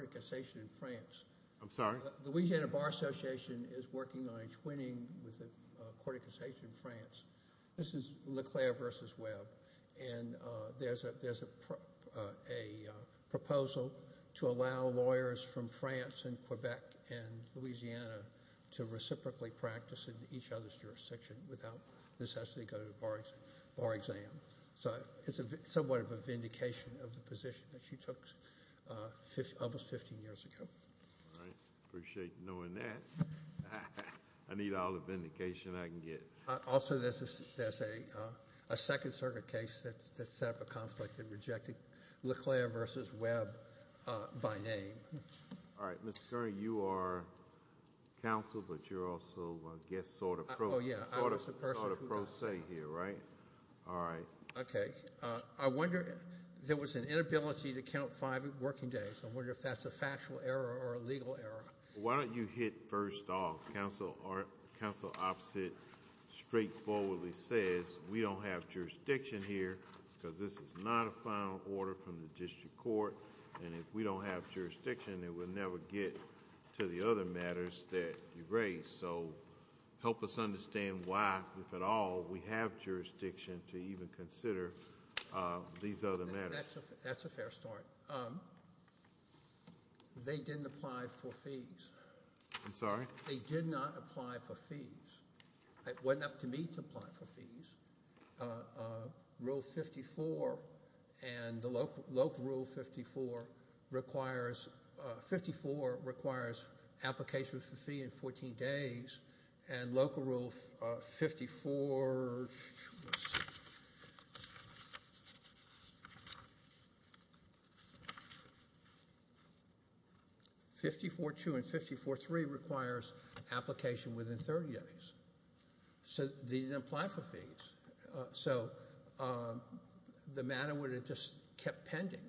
The Louisiana Bar Association is working on entwining with the Court of Cassation in France. This is Leclerc v. Webb, and there's a proposal to allow lawyers from France and Quebec and Louisiana to reciprocally practice in each other's jurisdiction without the necessity to go to a bar exam. So it's somewhat of a vindication of the position that she took almost 15 years ago. All right. I appreciate you knowing that. I need all the vindication I can get. Also, there's a Second Circuit case that set up a conflict in rejecting Leclerc v. Webb by name. All right. Mr. Curry, you are counsel, but you're also a guest sort of pro. Oh, yeah. I was the person who got it. You're sort of pro se here, right? All right. Okay. I wonder if there was an inability to count five working days. I wonder if that's a factual error or a legal error. Why don't you hit first off? Counsel opposite straightforwardly says we don't have jurisdiction here because this is not a final order from the district court, and if we don't have jurisdiction, it will never get to the other matters that you raised. So help us understand why, if at all, we have jurisdiction to even consider these other matters. That's a fair start. They didn't apply for fees. I'm sorry? They did not apply for fees. It wasn't up to me to apply for fees. Rule 54 and the local rule 54 requires applications for fee in 14 days, and local rule 54-2 and 54-3 requires application within 30 days. So they didn't apply for fees. So the matter would have just kept pending.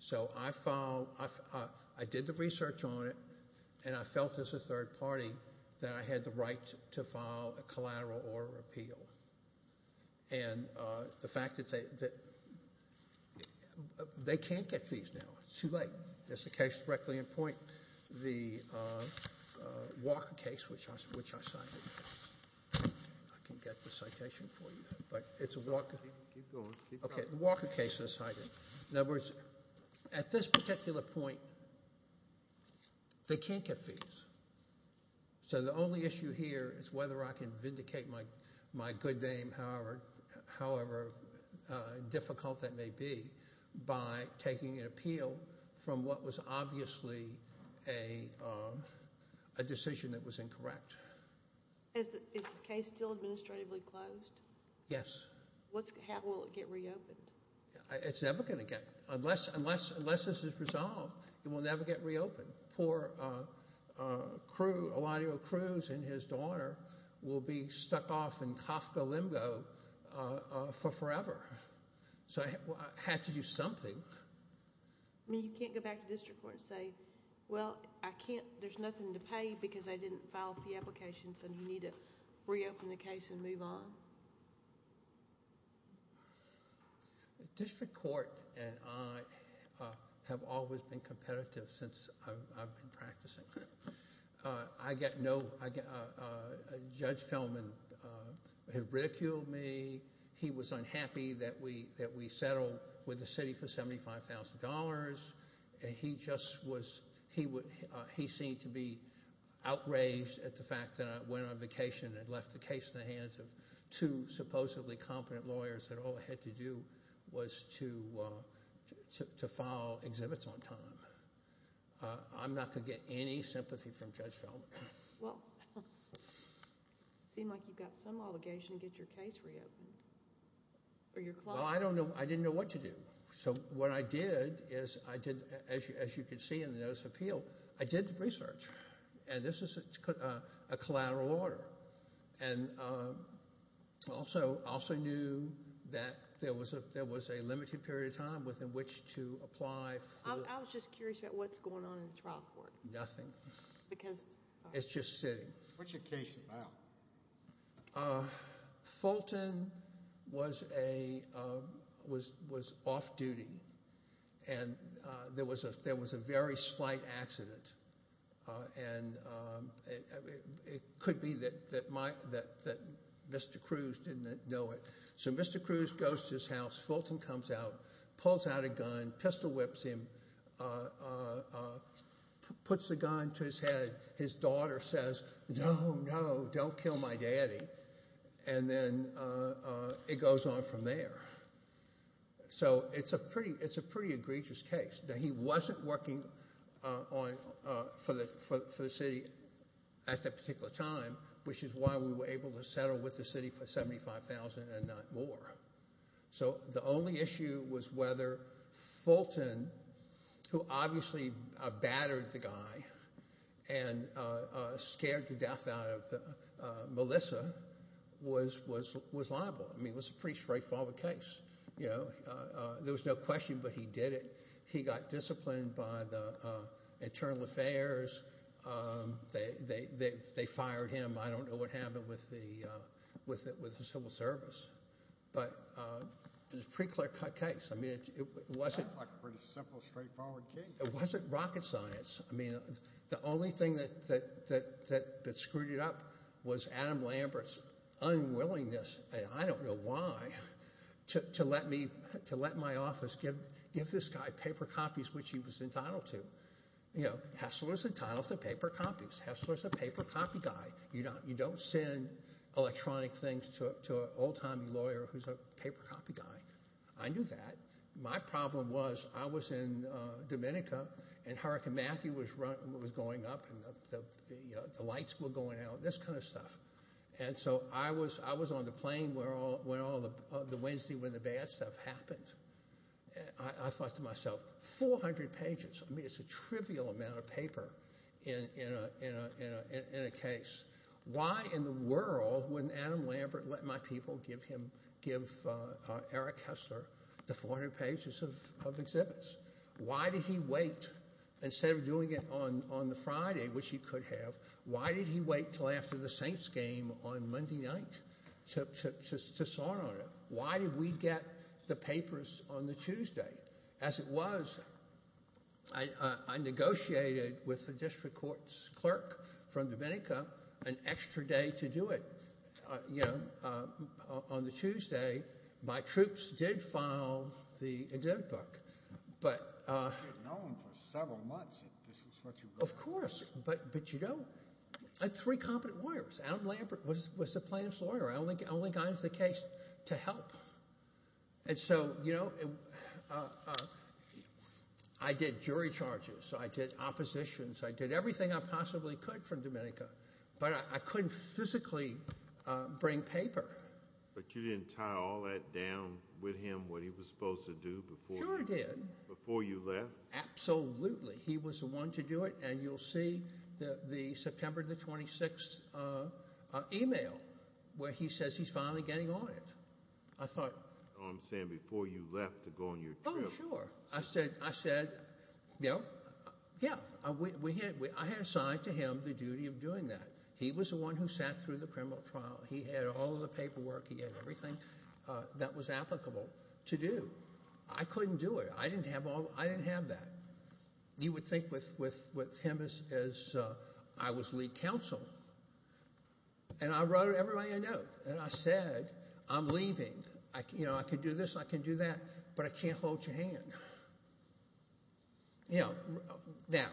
So I did the research on it, and I felt as a third party that I had the right to file a collateral order appeal. And the fact that they can't get fees now. It's too late. There's a case directly in point, the Walker case, which I cited. I can get the citation for you, but it's a Walker. Keep going. Okay, the Walker case that I cited. In other words, at this particular point, they can't get fees. So the only issue here is whether I can vindicate my good name, however difficult that may be, by taking an appeal from what was obviously a decision that was incorrect. Is the case still administratively closed? Yes. How will it get reopened? It's never going to get reopened. Unless this is resolved, it will never get reopened. Poor Elanio Cruz and his daughter will be stuck off in Kafka limbo for forever. So I had to do something. I mean, you can't go back to district court and say, well, there's nothing to pay because I didn't file a fee application, so you need to reopen the case and move on. District court and I have always been competitive since I've been practicing. Judge Feldman had ridiculed me. He was unhappy that we settled with the city for $75,000. He seemed to be outraged at the fact that I went on vacation and left the case in the hands of two supposedly competent lawyers that all I had to do was to file exhibits on time. I'm not going to get any sympathy from Judge Feldman. Well, it seems like you've got some obligation to get your case reopened. Well, I didn't know what to do. So what I did is I did, as you can see in the notice of appeal, I did research. This is a collateral order. I also knew that there was a limited period of time within which to apply for... I was just curious about what's going on in the trial court. Nothing. Because... It's just sitting. What's your case about? Fulton was off duty, and there was a very slight accident, and it could be that Mr. Cruz didn't know it. So Mr. Cruz goes to his house. Fulton comes out, pulls out a gun, pistol whips him, puts the gun to his head. His daughter says, No, no, don't kill my daddy. And then it goes on from there. So it's a pretty egregious case. He wasn't working for the city at that particular time, which is why we were able to settle with the city for $75,000 and not more. So the only issue was whether Fulton, who obviously battered the guy and scared to death out of Melissa, was liable. I mean it was a pretty straightforward case. There was no question, but he did it. He got disciplined by the Internal Affairs. They fired him. I don't know what happened with the Civil Service. But it was a pretty clear-cut case. It wasn't rocket science. I mean the only thing that screwed it up was Adam Lambert's unwillingness, and I don't know why, to let my office give this guy paper copies, which he was entitled to. Hessler's entitled to paper copies. Hessler's a paper copy guy. You don't send electronic things to an old-timey lawyer who's a paper copy guy. I knew that. My problem was I was in Dominica, and Hurricane Matthew was going up, and the lights were going out, this kind of stuff. And so I was on the plane the Wednesday when the bad stuff happened. I thought to myself, 400 pages. I mean it's a trivial amount of paper in a case. Why in the world wouldn't Adam Lambert let my people give Eric Hessler the 400 pages of exhibits? Why did he wait? Instead of doing it on the Friday, which he could have, why did he wait until after the Saints game on Monday night to sign on it? Why did we get the papers on the Tuesday? As it was, I negotiated with the district court's clerk from Dominica an extra day to do it. On the Tuesday, my troops did file the exhibit book. But of course, but you know, I had three competent lawyers. Adam Lambert was the plaintiff's lawyer. I only got into the case to help. And so, you know, I did jury charges. I did oppositions. I did everything I possibly could from Dominica. But I couldn't physically bring paper. But you didn't tie all that down with him, what he was supposed to do before you left? Sure I did. Absolutely. He was the one to do it, and you'll see the September 26th email where he says he's finally getting on it. Oh, I'm saying before you left to go on your trip. Oh, sure. I said, you know, yeah, I had assigned to him the duty of doing that. He was the one who sat through the criminal trial. He had all the paperwork. He had everything that was applicable to do. I couldn't do it. I didn't have that. And I wrote everybody a note. And I said, I'm leaving. You know, I can do this and I can do that, but I can't hold your hand. You know, now,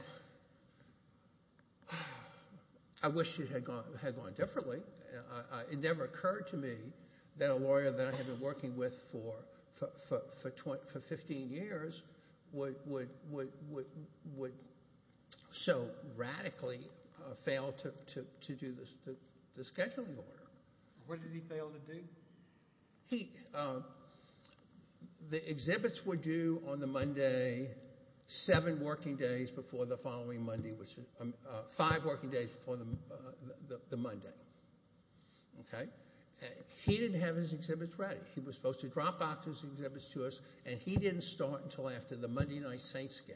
I wish it had gone differently. It never occurred to me that a lawyer that I had been working with for 15 years would so radically fail to do the scheduling order. What did he fail to do? The exhibits were due on the Monday, five working days before the Monday. Okay? He didn't have his exhibits ready. He was supposed to drop off his exhibits to us, and he didn't start until after the Monday Night Saints game.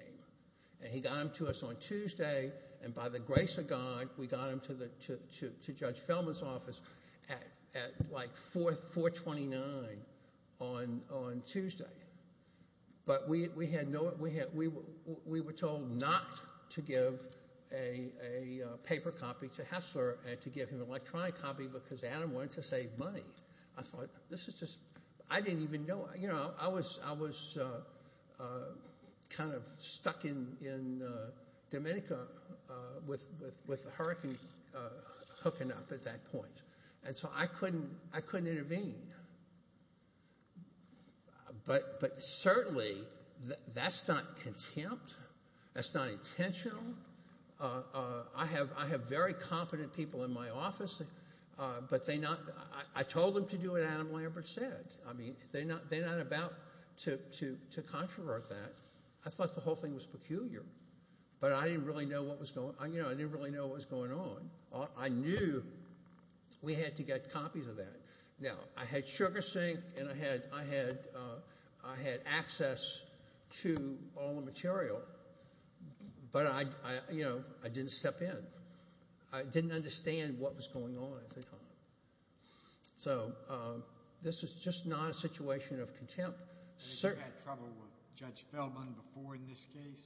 And he got them to us on Tuesday, and by the grace of God, we got them to Judge Feldman's office at, like, 429 on Tuesday. But we were told not to give a paper copy to Hessler and to give him an electronic copy because Adam wanted to save money. I thought, this is just, I didn't even know. You know, I was kind of stuck in Dominica with Hurricane hooking up at that point, and so I couldn't intervene. But certainly, that's not contempt. That's not intentional. I have very competent people in my office, but I told them to do what Adam Lambert said. I mean, they're not about to controvert that. I thought the whole thing was peculiar, but I didn't really know what was going on. I knew we had to get copies of that. Now, I had SugarSync, and I had access to all the material, but I didn't step in. I didn't understand what was going on. So, this is just not a situation of contempt. You had trouble with Judge Feldman before in this case?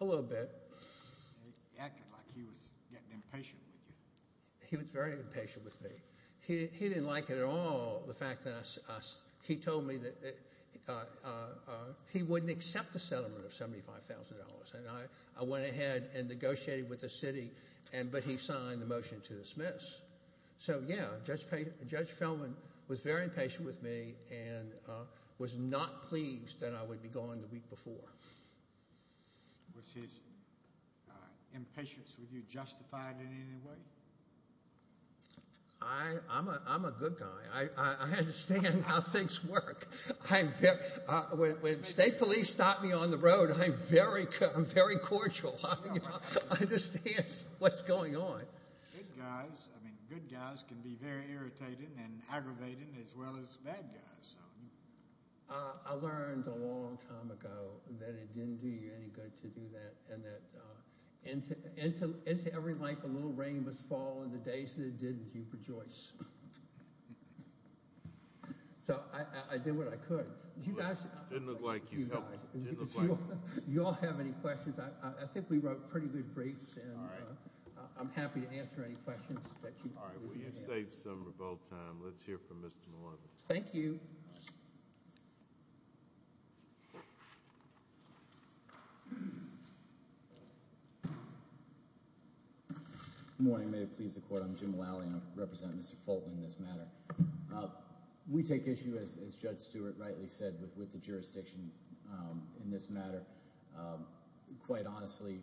A little bit. He acted like he was getting impatient with you. He was very impatient with me. He didn't like it at all, the fact that he told me that he wouldn't accept a settlement of $75,000. I went ahead and negotiated with the city, but he signed the motion to dismiss. So, yeah, Judge Feldman was very impatient with me and was not pleased that I would be gone the week before. Was his impatience with you justified in any way? I'm a good guy. I understand how things work. When state police stop me on the road, I'm very cordial. I understand what's going on. Good guys can be very irritating and aggravating as well as bad guys. I learned a long time ago that it didn't do you any good to do that, and that into every life a little rain must fall, and the days that it didn't, you'd rejoice. So I did what I could. Didn't look like you helped. You all have any questions? I think we wrote pretty good briefs. All right. I'm happy to answer any questions that you may have. All right. We have saved some of our time. Let's hear from Mr. Mulally. Thank you. Good morning. May it please the Court. I'm Jim Mulally, and I represent Mr. Feldman in this matter. We take issue, as Judge Stewart rightly said, with the jurisdiction in this matter. Quite honestly,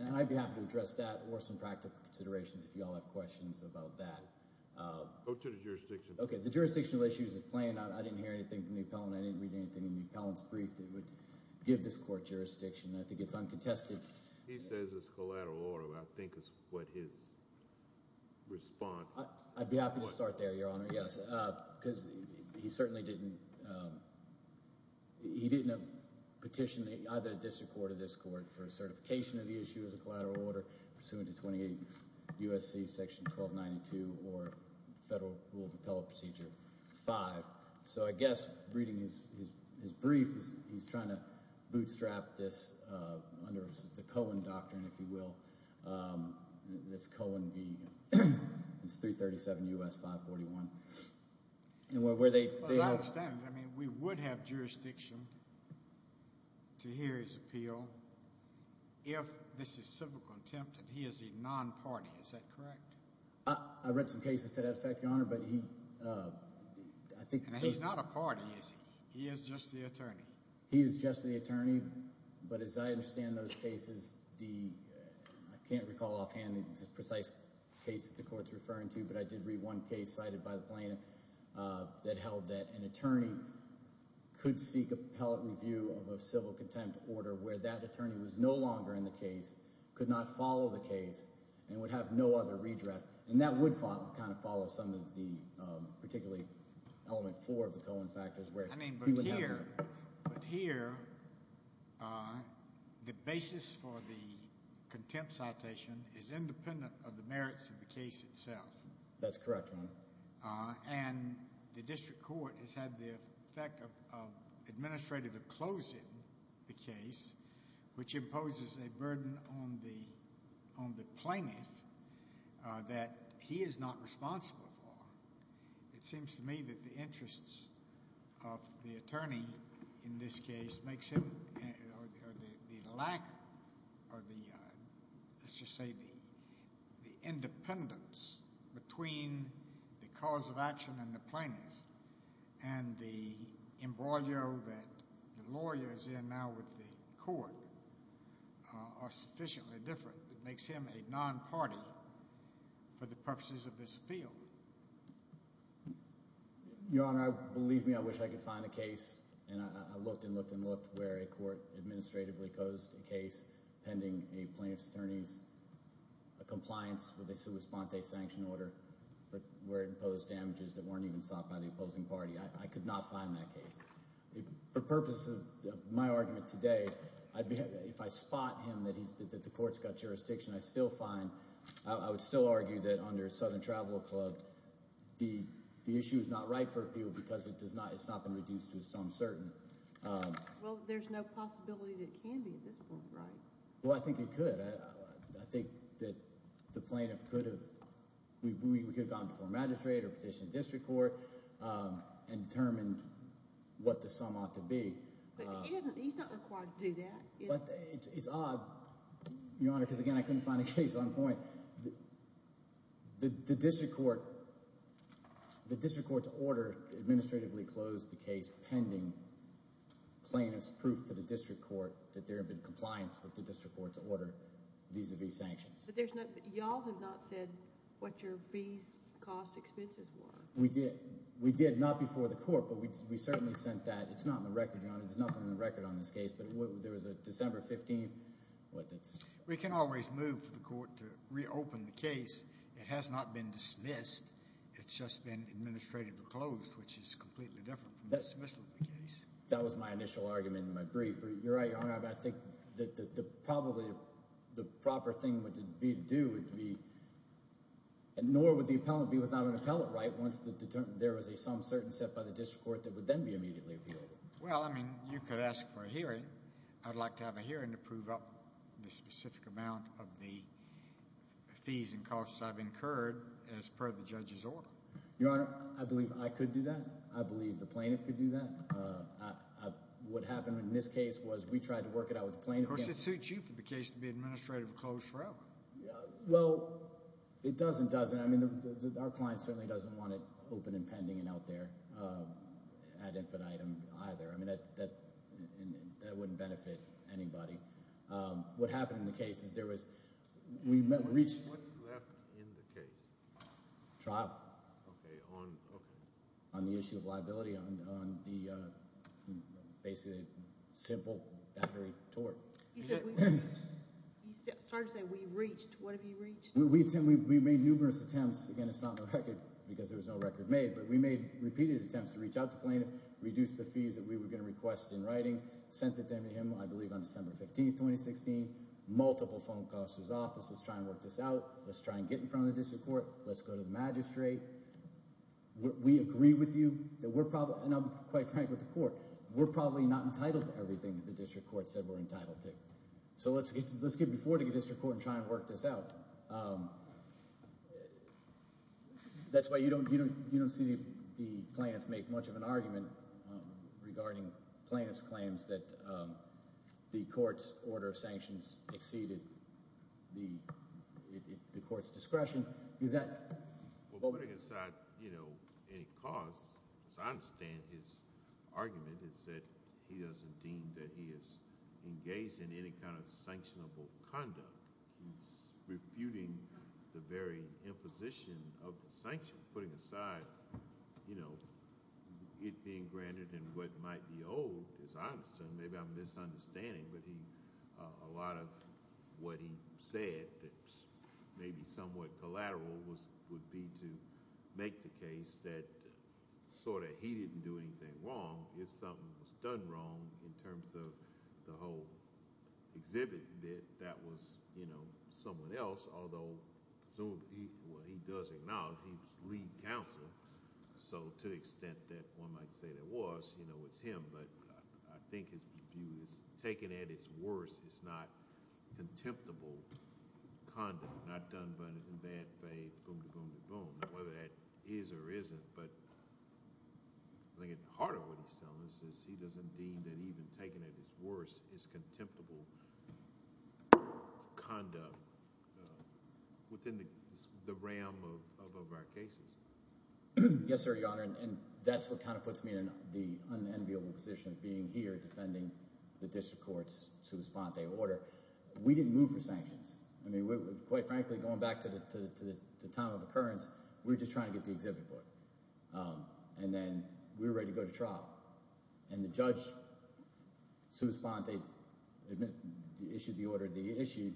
and I'd be happy to address that or some practical considerations, if you all have questions about that. Go to the jurisdiction. Okay. The jurisdictional issues is playing out. I didn't hear anything from the appellant. I didn't read anything in the appellant's brief that would give this court jurisdiction. I think it's uncontested. He says it's collateral order. I think is what his response was. I'd be happy to start there, Your Honor, yes, because he certainly didn't petition. He either disrecorded this court for a certification of the issue as a collateral order pursuant to 28 U.S.C. Section 1292 or Federal Rule of Appellate Procedure 5. So I guess reading his brief, he's trying to bootstrap this under the Cohen doctrine, if you will. It's Cohen v. It's 337 U.S. 541. As I understand it, we would have jurisdiction to hear his appeal if this is civil contempt and he is a non-party. Is that correct? I read some cases to that effect, Your Honor. He's not a party, is he? He is just the attorney. He is just the attorney, but as I understand those cases, I can't recall offhand any precise case that the court is referring to, but I did read one case cited by the plaintiff that held that an attorney could seek appellate review of a civil contempt order where that attorney was no longer in the case, could not follow the case, and would have no other redress. And that would kind of follow some of the particularly element four of the Cohen factors. But here, the basis for the contempt citation is independent of the merits of the case itself. That's correct, Your Honor. And the district court has had the effect of administrative of closing the case, which imposes a burden on the plaintiff that he is not responsible for. It seems to me that the interests of the attorney in this case makes him, or the lack of the, let's just say the independence between the cause of action and the plaintiff and the embroilio that the lawyer is in now with the court are sufficiently different. It makes him a non-party for the purposes of this appeal. Your Honor, believe me, I wish I could find a case, and I looked and looked and looked, where a court administratively closed a case pending a plaintiff's attorney's compliance with a sua sponte sanction order where it imposed damages that weren't even sought by the opposing party. I could not find that case. For purposes of my argument today, if I spot him that the court's got jurisdiction, I still find – I would still argue that under Southern Travel Club, the issue is not right for appeal because it's not been reduced to some certain. Well, there's no possibility that it can be at this point, right? Well, I think it could. I think that the plaintiff could have – we could have gone to form magistrate or petition the district court and determined what the sum ought to be. But he's not required to do that. But it's odd, Your Honor, because, again, I couldn't find a case on point. The district court's order administratively closed the case pending plaintiff's proof to the district court that there had been compliance with the district court's order vis-a-vis sanctions. But there's not – y'all have not said what your fees, costs, expenses were. We did. We did, not before the court, but we certainly sent that. It's not in the record, Your Honor. There's nothing on the record on this case, but there was a December 15th. We can always move for the court to reopen the case. It has not been dismissed. It's just been administratively closed, which is completely different from the dismissal of the case. That was my initial argument in my brief. You're right, Your Honor. I think that probably the proper thing would be to do would be – nor would the appellant be without an appellate right once there was a sum certain set by the district court that would then be immediately appealed. Well, I mean you could ask for a hearing. I'd like to have a hearing to prove up the specific amount of the fees and costs I've incurred as per the judge's order. Your Honor, I believe I could do that. I believe the plaintiff could do that. What happened in this case was we tried to work it out with the plaintiff. Of course, it suits you for the case to be administratively closed forever. Well, it does and doesn't. I mean our client certainly doesn't want it open and pending and out there ad infinitum either. I mean that wouldn't benefit anybody. What happened in the case is there was – we reached – What's left in the case? Trial. Okay. On the issue of liability on the basically simple battery tort. He said we reached. What have you reached? We made numerous attempts. Again, it's not on the record because there was no record made. But we made repeated attempts to reach out to the plaintiff, reduce the fees that we were going to request in writing, sent it to him, I believe, on December 15, 2016. Multiple phone calls to his office, let's try and work this out. Let's try and get in front of the district court. Let's go to the magistrate. We agree with you that we're – and I'm quite frank with the court. We're probably not entitled to everything that the district court said we're entitled to. So let's get before the district court and try and work this out. That's why you don't see the plaintiff make much of an argument regarding plaintiff's claims that the court's order of sanctions exceeded the court's discretion. Putting aside any cause, as I understand, his argument is that he doesn't deem that he is engaged in any kind of sanctionable conduct. He's refuting the very imposition of the sanctions. Putting aside it being granted and what might be owed, as I understand, maybe I'm misunderstanding, but a lot of what he said that's maybe somewhat collateral would be to make the case that he didn't do anything wrong. If something was done wrong in terms of the whole exhibit, that that was someone else, although he does acknowledge he's lead counsel, so to the extent that one might say there was, it's him. But I think his view is taken at its worst, it's not contemptible conduct. Not done in bad faith, boom-de-boom-de-boom, whether that is or isn't. But I think at the heart of what he's telling us is he doesn't deem that even taken at its worst is contemptible conduct within the realm of our cases. Yes, sir, Your Honor, and that's what kind of puts me in the unenviable position of being here defending the district court's sua sponte order. We didn't move for sanctions. I mean quite frankly, going back to the time of occurrence, we were just trying to get the exhibit book. And then we were ready to go to trial, and the judge sua sponte issued the order that he issued.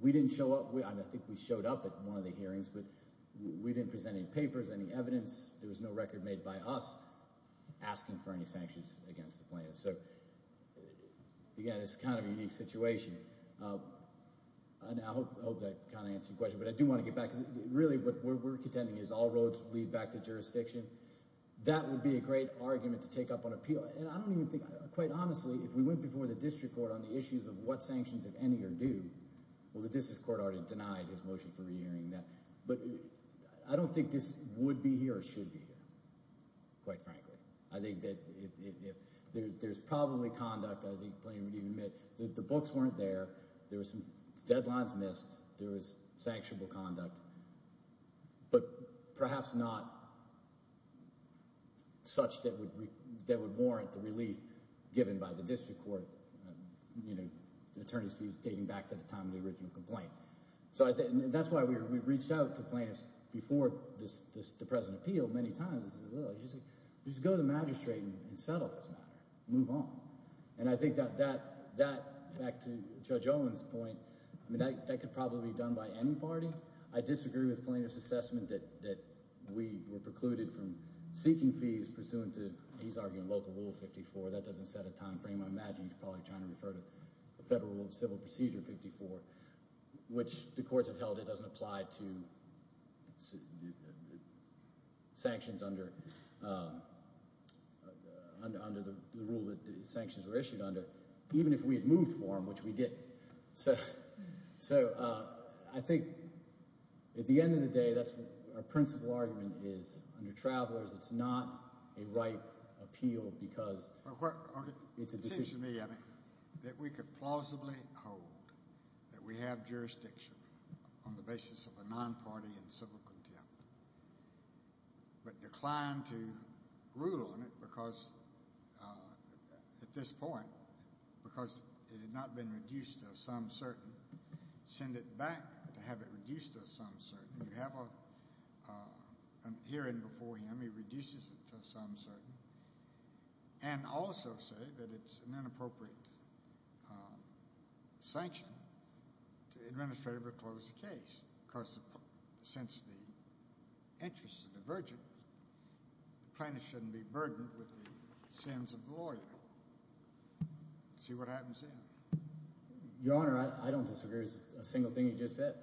We didn't show up. I think we showed up at one of the hearings, but we didn't present any papers, any evidence. There was no record made by us asking for any sanctions against the plaintiffs. So, again, it's kind of a unique situation. I hope that kind of answered your question, but I do want to get back because really what we're contending is all roads lead back to jurisdiction. That would be a great argument to take up on appeal. And I don't even think – quite honestly, if we went before the district court on the issues of what sanctions, if any, are due, well, the district court already denied his motion for re-hearing that. But I don't think this would be here or should be here, quite frankly. I think that if – there's probably conduct, I think plenty of people need to admit, that the books weren't there. There were some deadlines missed. There was sanctionable conduct, but perhaps not such that would warrant the relief given by the district court, the attorney's fees dating back to the time of the original complaint. So I think – and that's why we reached out to plaintiffs before the present appeal many times. Just go to the magistrate and settle this matter. Move on. And I think that, back to Judge Owen's point, that could probably be done by any party. I disagree with Plaintiff's assessment that we were precluded from seeking fees pursuant to, he's arguing, Local Rule 54. That doesn't set a time frame. I imagine he's probably trying to refer to Federal Rule of Civil Procedure 54, which the courts have held it doesn't apply to sanctions under – even if we had moved for them, which we didn't. So I think at the end of the day, that's what our principal argument is. Under Travelers, it's not a ripe appeal because it's a decision. It seems to me that we could plausibly hold that we have jurisdiction on the basis of a non-party and civil contempt, but decline to rule on it because, at this point, because it had not been reduced to a sum certain, send it back to have it reduced to a sum certain. You have a hearing before him. He reduces it to a sum certain and also say that it's an inappropriate sanction to administratively close the case because, since the interest is divergent, plaintiff shouldn't be burdened with the sins of the lawyer. See what happens then. Your Honor, I don't disagree with a single thing you just said.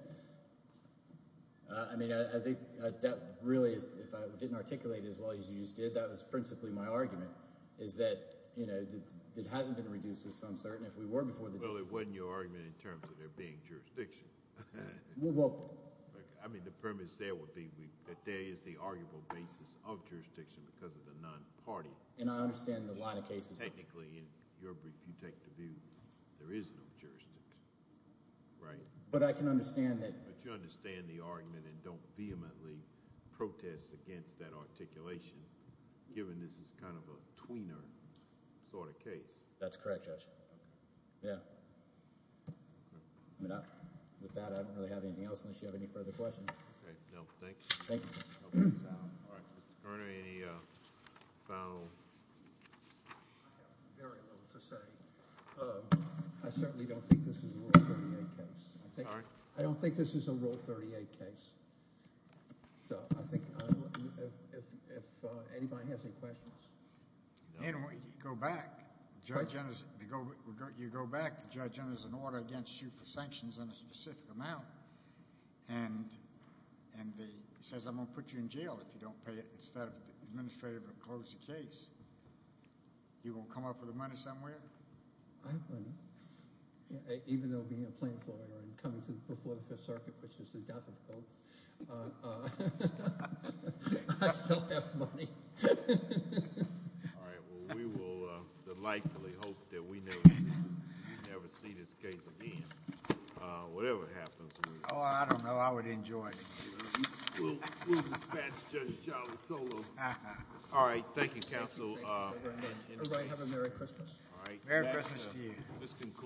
I mean I think that really, if I didn't articulate it as well as you just did, that was principally my argument is that it hasn't been reduced to a sum certain if we were before the decision. Well, it wasn't your argument in terms of there being jurisdiction. Well – I mean the premise there would be that there is the arguable basis of jurisdiction because of the non-party. And I understand the line of cases. Technically, in your brief, you take the view there is no jurisdiction, right? But I can understand that. But you understand the argument and don't vehemently protest against that articulation given this is kind of a tweener sort of case. That's correct, Judge. Yeah. With that, I don't really have anything else unless you have any further questions. Okay. No. Thank you. Thank you. All right. Mr. Cormier, any final – I have very little to say. I certainly don't think this is a Rule 38 case. Sorry? I don't think this is a Rule 38 case. So I think if anybody has any questions. Anyway, you go back. You go back. The judge enters an order against you for sanctions in a specific amount. And he says, I'm going to put you in jail if you don't pay it instead of the administrator to close the case. You going to come up with the money somewhere? I have money. Even though being a plain floral and coming to the Fourth and Fifth Circuit, which is the death of Pope, I still have money. All right. Well, we will delightfully hope that we never see this case again, whatever happens. Oh, I don't know. I would enjoy it. We'll dispatch Judge Jarvis solo. All right. Thank you, Counsel. Everybody have a Merry Christmas. Merry Christmas to you.